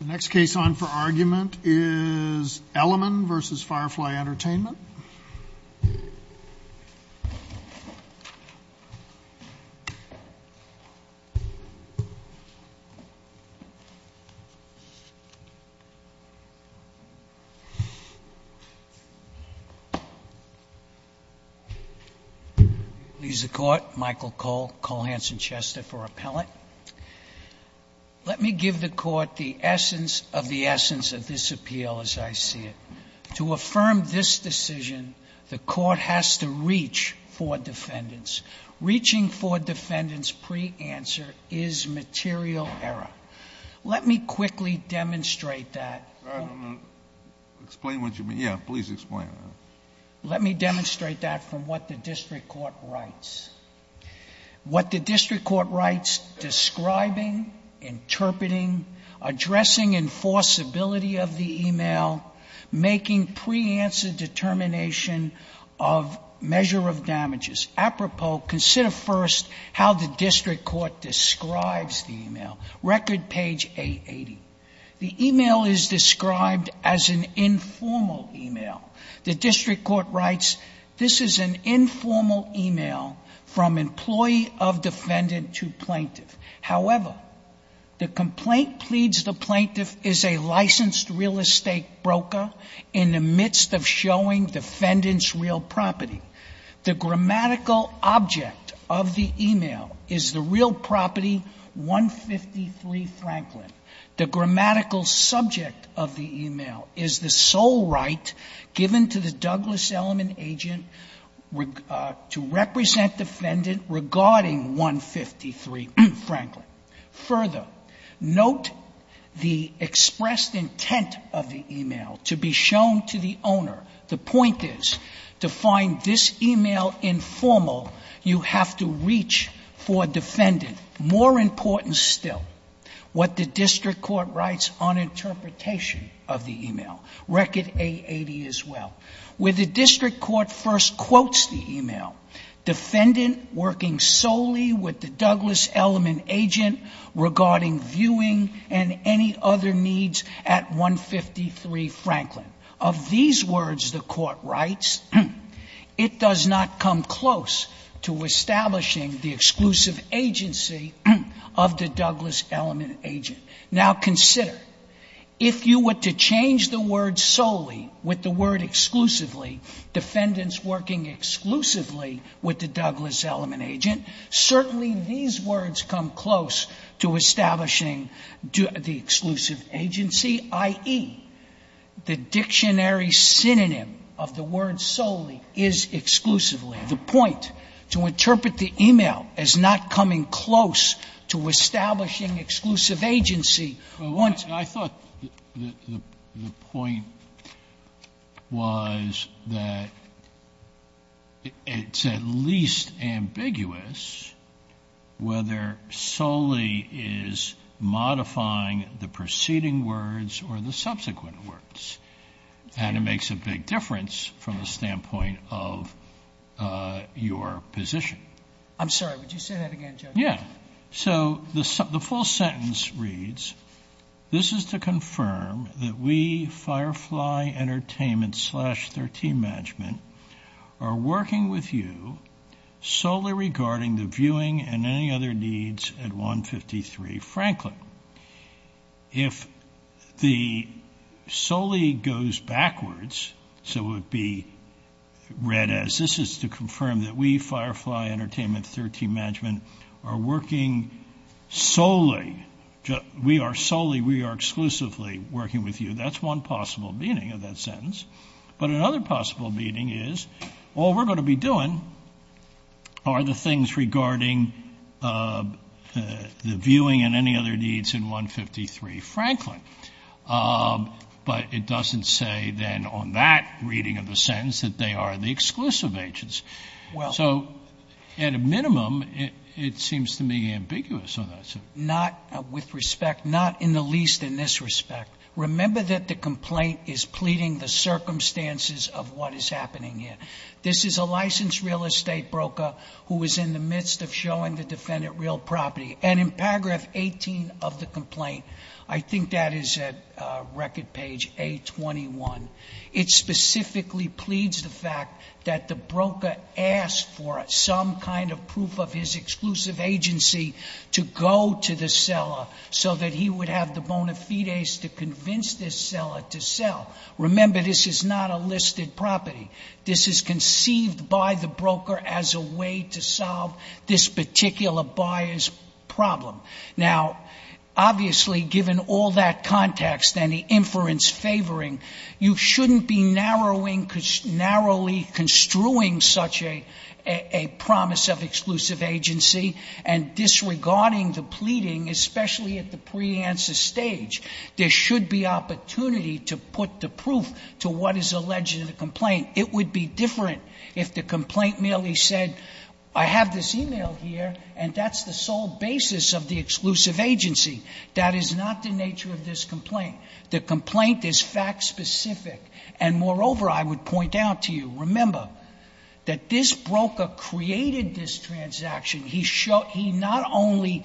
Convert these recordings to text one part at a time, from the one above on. The next case on for argument is Elliman v. Firefly Entertainment Michael Cole I'm going to call Hansen Chester for appellant. Let me give the Court the essence of the essence of this appeal as I see it. To affirm this decision, the Court has to reach for defendants. Reaching for defendants pre-answer is material error. Let me quickly demonstrate that. Explain what you mean. Yeah, please explain. Let me demonstrate that from what the District Court writes. What the District Court writes, describing, interpreting, addressing enforceability of the e-mail, making pre-answer determination of measure of damages. Apropos, consider first how the District Court describes the e-mail. Record page 880. The e-mail is described as an informal e-mail. The District Court writes, this is an informal e-mail from employee of defendant to plaintiff. However, the complaint pleads the plaintiff is a licensed real estate broker in the midst of showing defendant's real property. The grammatical object of the e-mail is the real property 153 Franklin. The grammatical subject of the e-mail is the sole right given to the Douglas Elliman agent to represent defendant regarding 153 Franklin. Further, note the expressed intent of the e-mail to be shown to the owner. The point is to find this e-mail informal, you have to reach for defendant. And more important still, what the District Court writes on interpretation of the e-mail. Record 880 as well. Where the District Court first quotes the e-mail, defendant working solely with the Douglas Elliman agent regarding viewing and any other needs at 153 Franklin. Of these words the Court writes, it does not come close to establishing the exclusive agency of the Douglas Elliman agent. Now consider, if you were to change the word solely with the word exclusively, defendants working exclusively with the Douglas Elliman agent, certainly these words come close to establishing the exclusive agency, i.e., the dictionary synonym of the word solely is exclusively. The point, to interpret the e-mail as not coming close to establishing exclusive agency once. I thought the point was that it's at least ambiguous whether solely is modifying the preceding words or the subsequent words. And it makes a big difference from the standpoint of your position. I'm sorry, would you say that again, Judge? Yeah, so the full sentence reads, this is to confirm that we, Firefly Entertainment slash 13 Management, are working with you solely regarding the viewing and any other needs at 153 Franklin. If the solely goes backwards, so it would be read as, this is to confirm that we, Firefly Entertainment, 13 Management, are working solely, we are solely, we are exclusively working with you. That's one possible meaning of that sentence. But another possible meaning is, all we're going to be doing are the things regarding the viewing and any other needs in 153 Franklin. But it doesn't say then on that reading of the sentence that they are the exclusive agents. So, at a minimum, it seems to me ambiguous on that. Not with respect, not in the least in this respect. Remember that the complaint is pleading the circumstances of what is happening here. This is a licensed real estate broker who is in the midst of showing the defendant real property. And in paragraph 18 of the complaint, I think that is at record page A21, it specifically pleads the fact that the broker asked for some kind of proof of his exclusive agency to go to the seller so that he would have the bona fides to convince this seller to sell. Remember, this is not a listed property. This is conceived by the broker as a way to solve this particular buyer's problem. Now, obviously, given all that context and the inference favoring, you shouldn't be narrowly construing such a promise of exclusive agency and disregarding the pleading, especially at the pre-answer stage. There should be opportunity to put the proof to what is alleged in the complaint. It would be different if the complaint merely said, I have this e-mail here, and that's the sole basis of the exclusive agency. That is not the nature of this complaint. The complaint is fact-specific. And moreover, I would point out to you, remember, that this broker created this transaction. He not only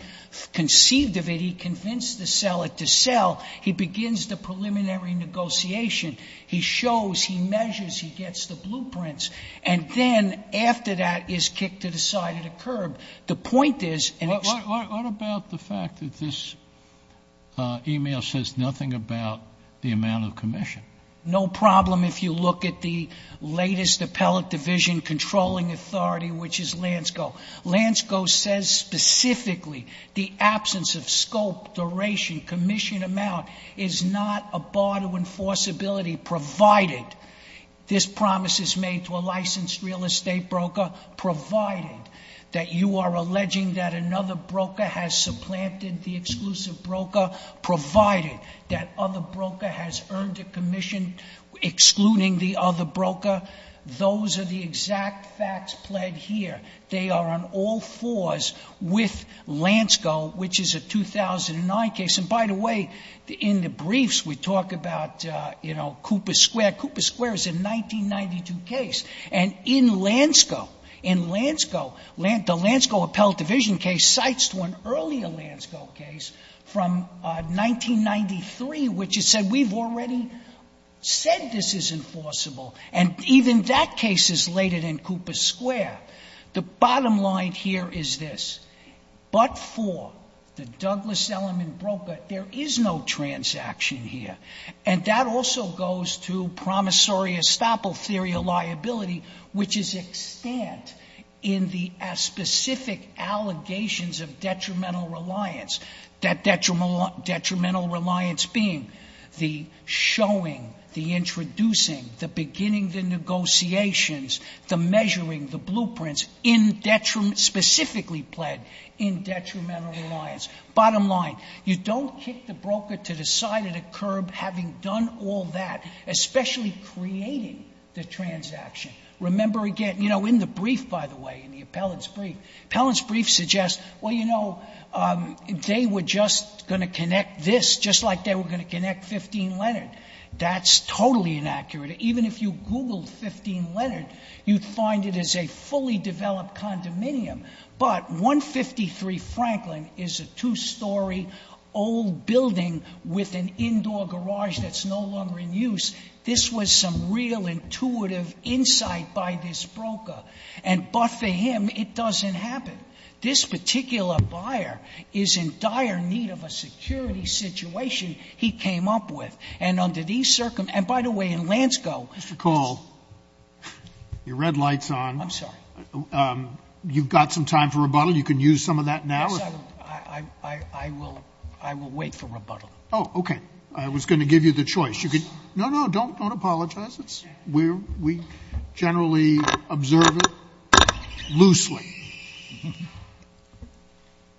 conceived of it, he convinced the seller to sell. He begins the preliminary negotiation. He shows, he measures, he gets the blueprints. And then after that is kicked to the side of the curb. The point is and it's What about the fact that this e-mail says nothing about the amount of commission? No problem if you look at the latest appellate division controlling authority, which is Lansko. Lansko says specifically the absence of scope, duration, commission amount is not a bar to enforceability provided this promise is made to a licensed real estate broker, provided that you are alleging that another broker has supplanted the exclusive broker, provided that other broker has earned a commission excluding the other broker. Those are the exact facts pled here. They are on all fours with Lansko, which is a 2009 case. And by the way, in the briefs we talk about, you know, Cooper Square. Cooper Square is a 1992 case. And in Lansko, in Lansko, the Lansko appellate division case cites to an earlier Lansko case from 1993, which it said we've already said this is enforceable. And even that case is later than Cooper Square. The bottom line here is this. But for the Douglas Elliman broker, there is no transaction here. And that also goes to promissory estoppel theory of liability, which is extant in the specific allegations of detrimental reliance, that detrimental reliance being the showing, the introducing, the beginning, the negotiations, the measuring, the blueprints in detriment, specifically pled in detrimental reliance. Bottom line, you don't kick the broker to the side of the curb having done all that, especially creating the transaction. Remember again, you know, in the brief, by the way, in the appellate's brief, the appellate's brief suggests, well, you know, they were just going to connect this just like they did. That's totally inaccurate. Even if you Googled 15 Leonard, you'd find it as a fully developed condominium. But 153 Franklin is a two-story old building with an indoor garage that's no longer in use. This was some real intuitive insight by this broker. And but for him, it doesn't happen. This particular buyer is in dire need of a security situation he came up with. And under these circumstances, and by the way, in Lansko. Mr. Call, your red light's on. I'm sorry. You've got some time for rebuttal. You can use some of that now. I will wait for rebuttal. Oh, okay. I was going to give you the choice. No, no, don't apologize. We generally observe it loosely.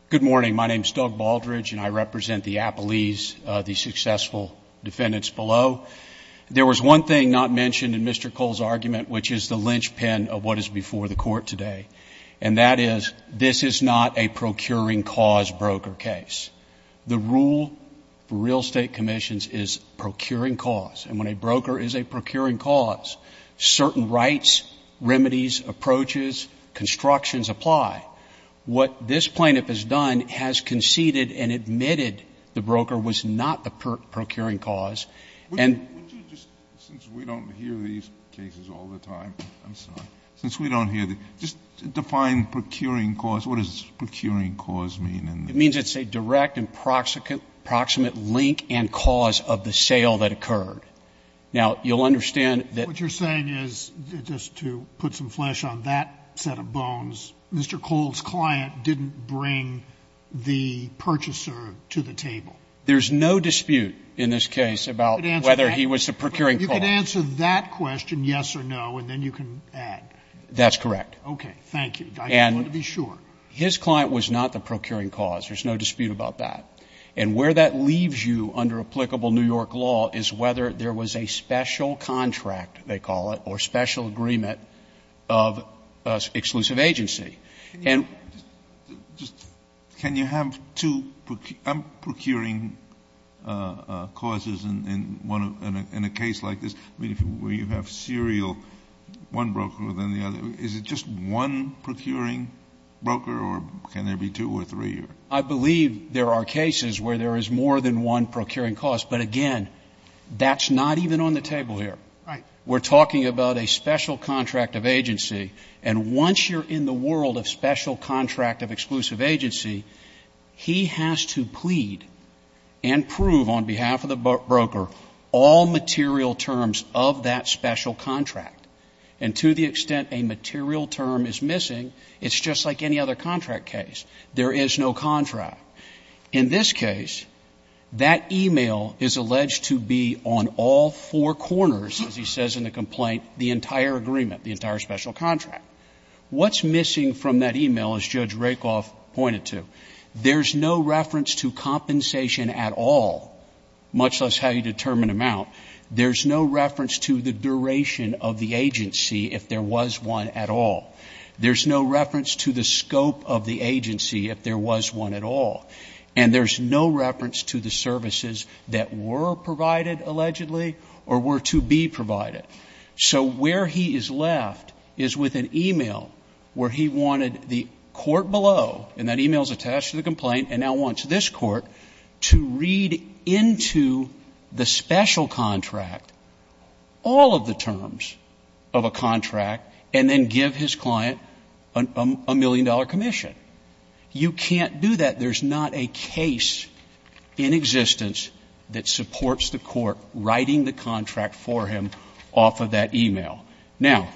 Good morning. My name is Doug Baldridge, and I represent the Appalese, the successful defendants below. There was one thing not mentioned in Mr. Call's argument, which is the linchpin of what is before the court today. And that is, this is not a procuring cause broker case. The rule for real estate commissions is procuring cause. And when a broker is a procuring cause, certain rights, remedies, approaches, constructions apply. What this plaintiff has done has conceded and admitted the broker was not the procuring cause. And ---- Would you just, since we don't hear these cases all the time, I'm sorry. Since we don't hear them, just define procuring cause. What does procuring cause mean? It means it's a direct and proximate link and cause of the sale that occurred. Now, you'll understand that ---- But Mr. Call's client didn't bring the purchaser to the table. There's no dispute in this case about whether he was the procuring cause. You can answer that question, yes or no, and then you can add. That's correct. Okay. Thank you. I just want to be sure. And his client was not the procuring cause. There's no dispute about that. And where that leaves you under applicable New York law is whether there was a special contract, they call it, or special agreement of exclusive agency. And ---- Can you have two procuring causes in one of ---- in a case like this where you have serial, one broker, then the other? Is it just one procuring broker or can there be two or three or ---- I believe there are cases where there is more than one procuring cause. But again, that's not even on the table here. Right. We're talking about a special contract of agency. And once you're in the world of special contract of exclusive agency, he has to plead and prove on behalf of the broker all material terms of that special contract. And to the extent a material term is missing, it's just like any other contract case. There is no contract. In this case, that e-mail is alleged to be on all four corners, as he says in the complaint, the entire agreement, the entire special contract. What's missing from that e-mail, as Judge Rakoff pointed to? There's no reference to compensation at all, much less how you determine amount. There's no reference to the duration of the agency if there was one at all. There's no reference to the scope of the agency if there was one at all. And there's no reference to the services that were provided allegedly or were to be provided. So where he is left is with an e-mail where he wanted the court below, and that e-mail is attached to the complaint, and now wants this court to read into the special contract, all of the terms of a contract, and then give his client a million-dollar commission. You can't do that. There's not a case in existence that supports the court writing the contract for him off of that e-mail. Now,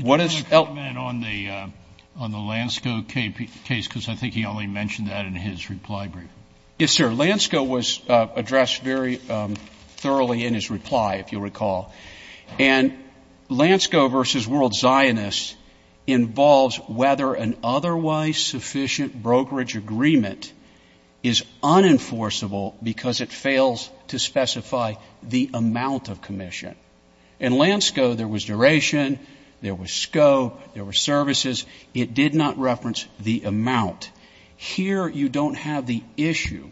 what does Elk do? Robertson did not comment on the Lansko case, because I think he only mentioned that in his reply brief. Yes, sir. Lansko was addressed very thoroughly in his reply, if you recall. And Lansko v. World Zionists involves whether an otherwise sufficient brokerage agreement is unenforceable because it fails to specify the amount of commission. In Lansko, there was duration, there was scope, there were services. It did not reference the amount. Here, you don't have the issue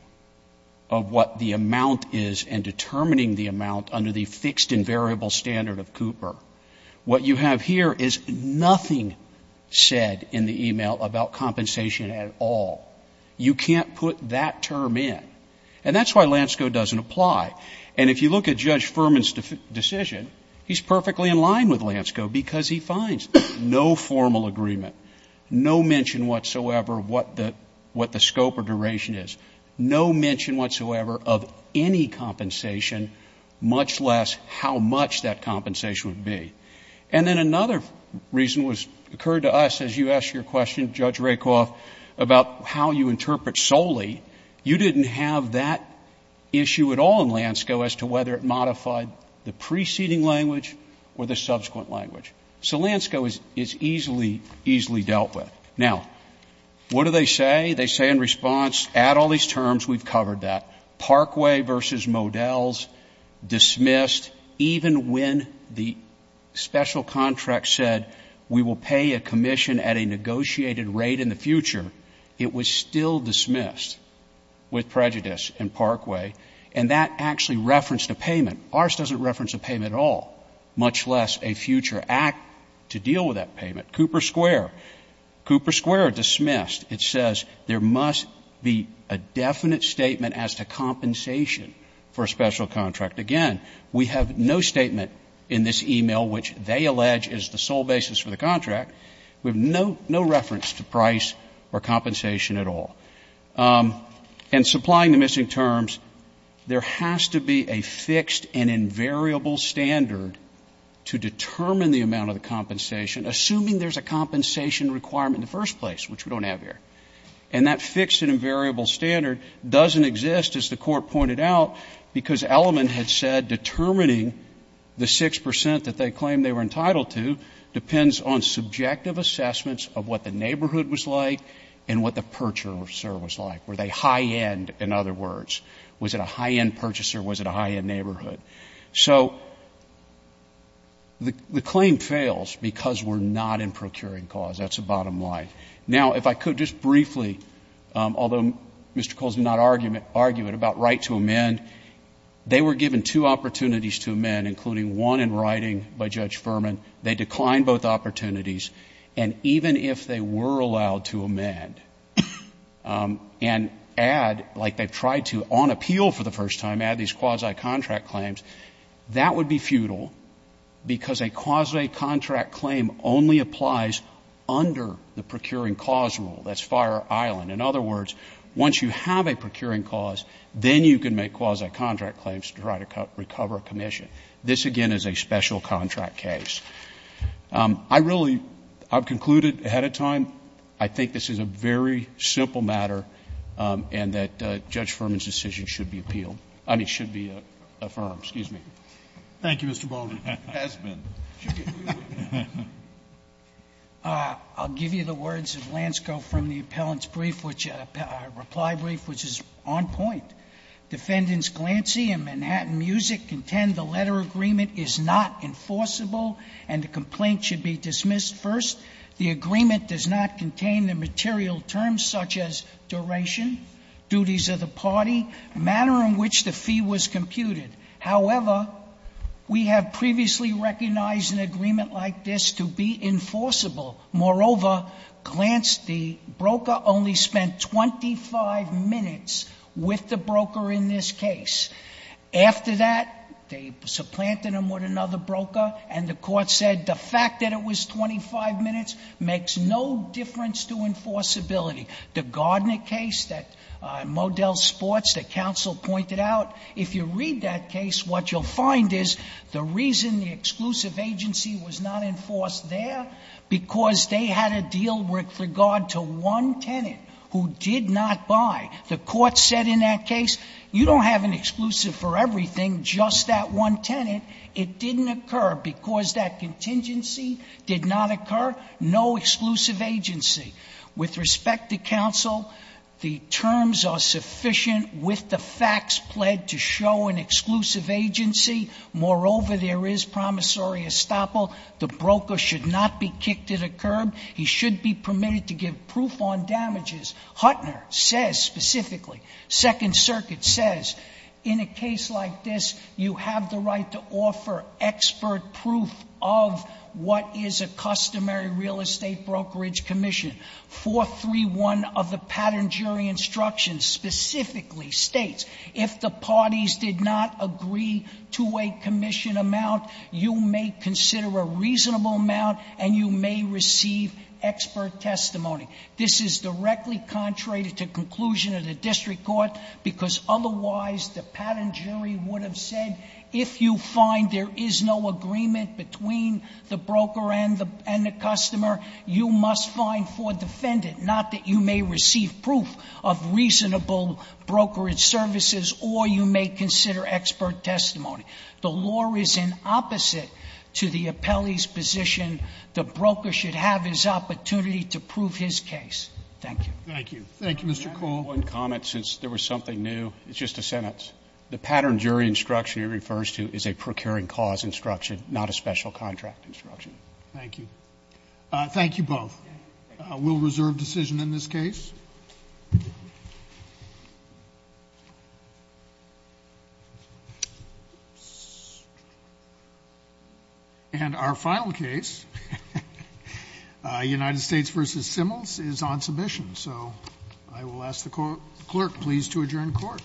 of what the amount is and determining the amount under the fixed and variable standard of Cooper. What you have here is nothing said in the e-mail about compensation at all. You can't put that term in. And that's why Lansko doesn't apply. And if you look at Judge Furman's decision, he's perfectly in line with Lansko because he finds no formal agreement, no mention whatsoever of what the scope or duration is, no mention whatsoever of any compensation, much less how much that compensation would be. And then another reason was occurred to us as you asked your question, Judge Rakoff, about how you interpret solely. You didn't have that issue at all in Lansko as to whether it modified the preceding language or the subsequent language. So Lansko is easily, easily dealt with. Now, what do they say? They say in response, add all these terms. We've covered that. Parkway versus Modell's, dismissed. Even when the special contract said we will pay a commission at a negotiated rate in the future, it was still dismissed with prejudice in Parkway. And that actually referenced a payment. Ours doesn't reference a payment at all, much less a future act to deal with that payment. Cooper Square. Cooper Square, dismissed. It says there must be a definite statement as to compensation for a special contract. Again, we have no statement in this e-mail which they allege is the sole basis for the contract. We have no reference to price or compensation at all. And supplying the missing terms, there has to be a fixed and invariable standard to determine the amount of the compensation, assuming there's a compensation requirement in the first place, which we don't have here. And that fixed and invariable standard doesn't exist, as the Court pointed out, because Elliman had said determining the 6 percent that they claimed they were entitled to depends on subjective assessments of what the neighborhood was like and what the purchaser was like. Were they high-end, in other words? Was it a high-end purchaser? Was it a high-end neighborhood? So the claim fails because we're not in procuring cause. That's the bottom line. Now, if I could just briefly, although Mr. Cole's not arguing about right to amend, they were given two opportunities to amend, including one in writing by Judge Furman. They declined both opportunities. And even if they were allowed to amend and add, like they've tried to on appeal for the first time, add these quasi-contract claims, that would be futile because a quasi-contract claim only applies under the procuring cause rule. That's Fire Island. In other words, once you have a procuring cause, then you can make quasi-contract claims to try to recover a commission. This, again, is a special contract case. I really, I've concluded ahead of time, I think this is a very simple matter, and that Judge Furman's decision should be appealed. I mean, should be affirmed. Excuse me. Thank you, Mr. Baldwin. It has been. I'll give you the words of Lansko from the appellant's brief, which, reply brief, which is on point. Defendants Glancy and Manhattan Music contend the letter agreement is not enforceable and the complaint should be dismissed first. The agreement does not contain the material terms such as duration, duties of the party, manner in which the fee was computed. However, we have previously recognized an agreement like this to be enforceable. Moreover, Glancy, the broker, only spent 25 minutes with the broker in this case. After that, they supplanted him with another broker, and the court said the fact that it was 25 minutes makes no difference to enforceability. The Gardner case that Modell Sports, the counsel pointed out, if you read that case, what you'll find is the reason the exclusive agency was not enforced there, because they had a deal with regard to one tenant who did not buy. The court said in that case, you don't have an exclusive for everything, just that one tenant. It didn't occur because that contingency did not occur. No exclusive agency. With respect to counsel, the terms are sufficient with the facts pled to show an exclusive agency. Moreover, there is promissory estoppel. The broker should not be kicked to the curb. He should be permitted to give proof on damages. Huttner says specifically, Second Circuit says, in a case like this, you have the right to offer expert proof of what is a customary real estate brokerage commission. 431 of the pattern jury instructions specifically states, if the parties did not agree to a commission amount, you may consider a reasonable amount, and you may receive expert testimony. This is directly contrary to the conclusion of the district court, because otherwise, the pattern jury would have said, if you find there is no agreement between the broker and the customer, you must find for defendant, not that you may receive proof of reasonable brokerage services, or you may consider expert testimony. The law is in opposite to the appellee's position. The broker should have his opportunity to prove his case. Thank you. Thank you. Thank you, Mr. Cole. Can I make one comment, since there was something new? It's just a sentence. The pattern jury instruction he refers to is a procuring cause instruction, not a special contract instruction. Thank you. Thank you both. We'll reserve decision in this case. And our final case, United States v. Simmels, is on submission, so I will ask the clerk, please, to adjourn court. Court is adjourned. Thank you.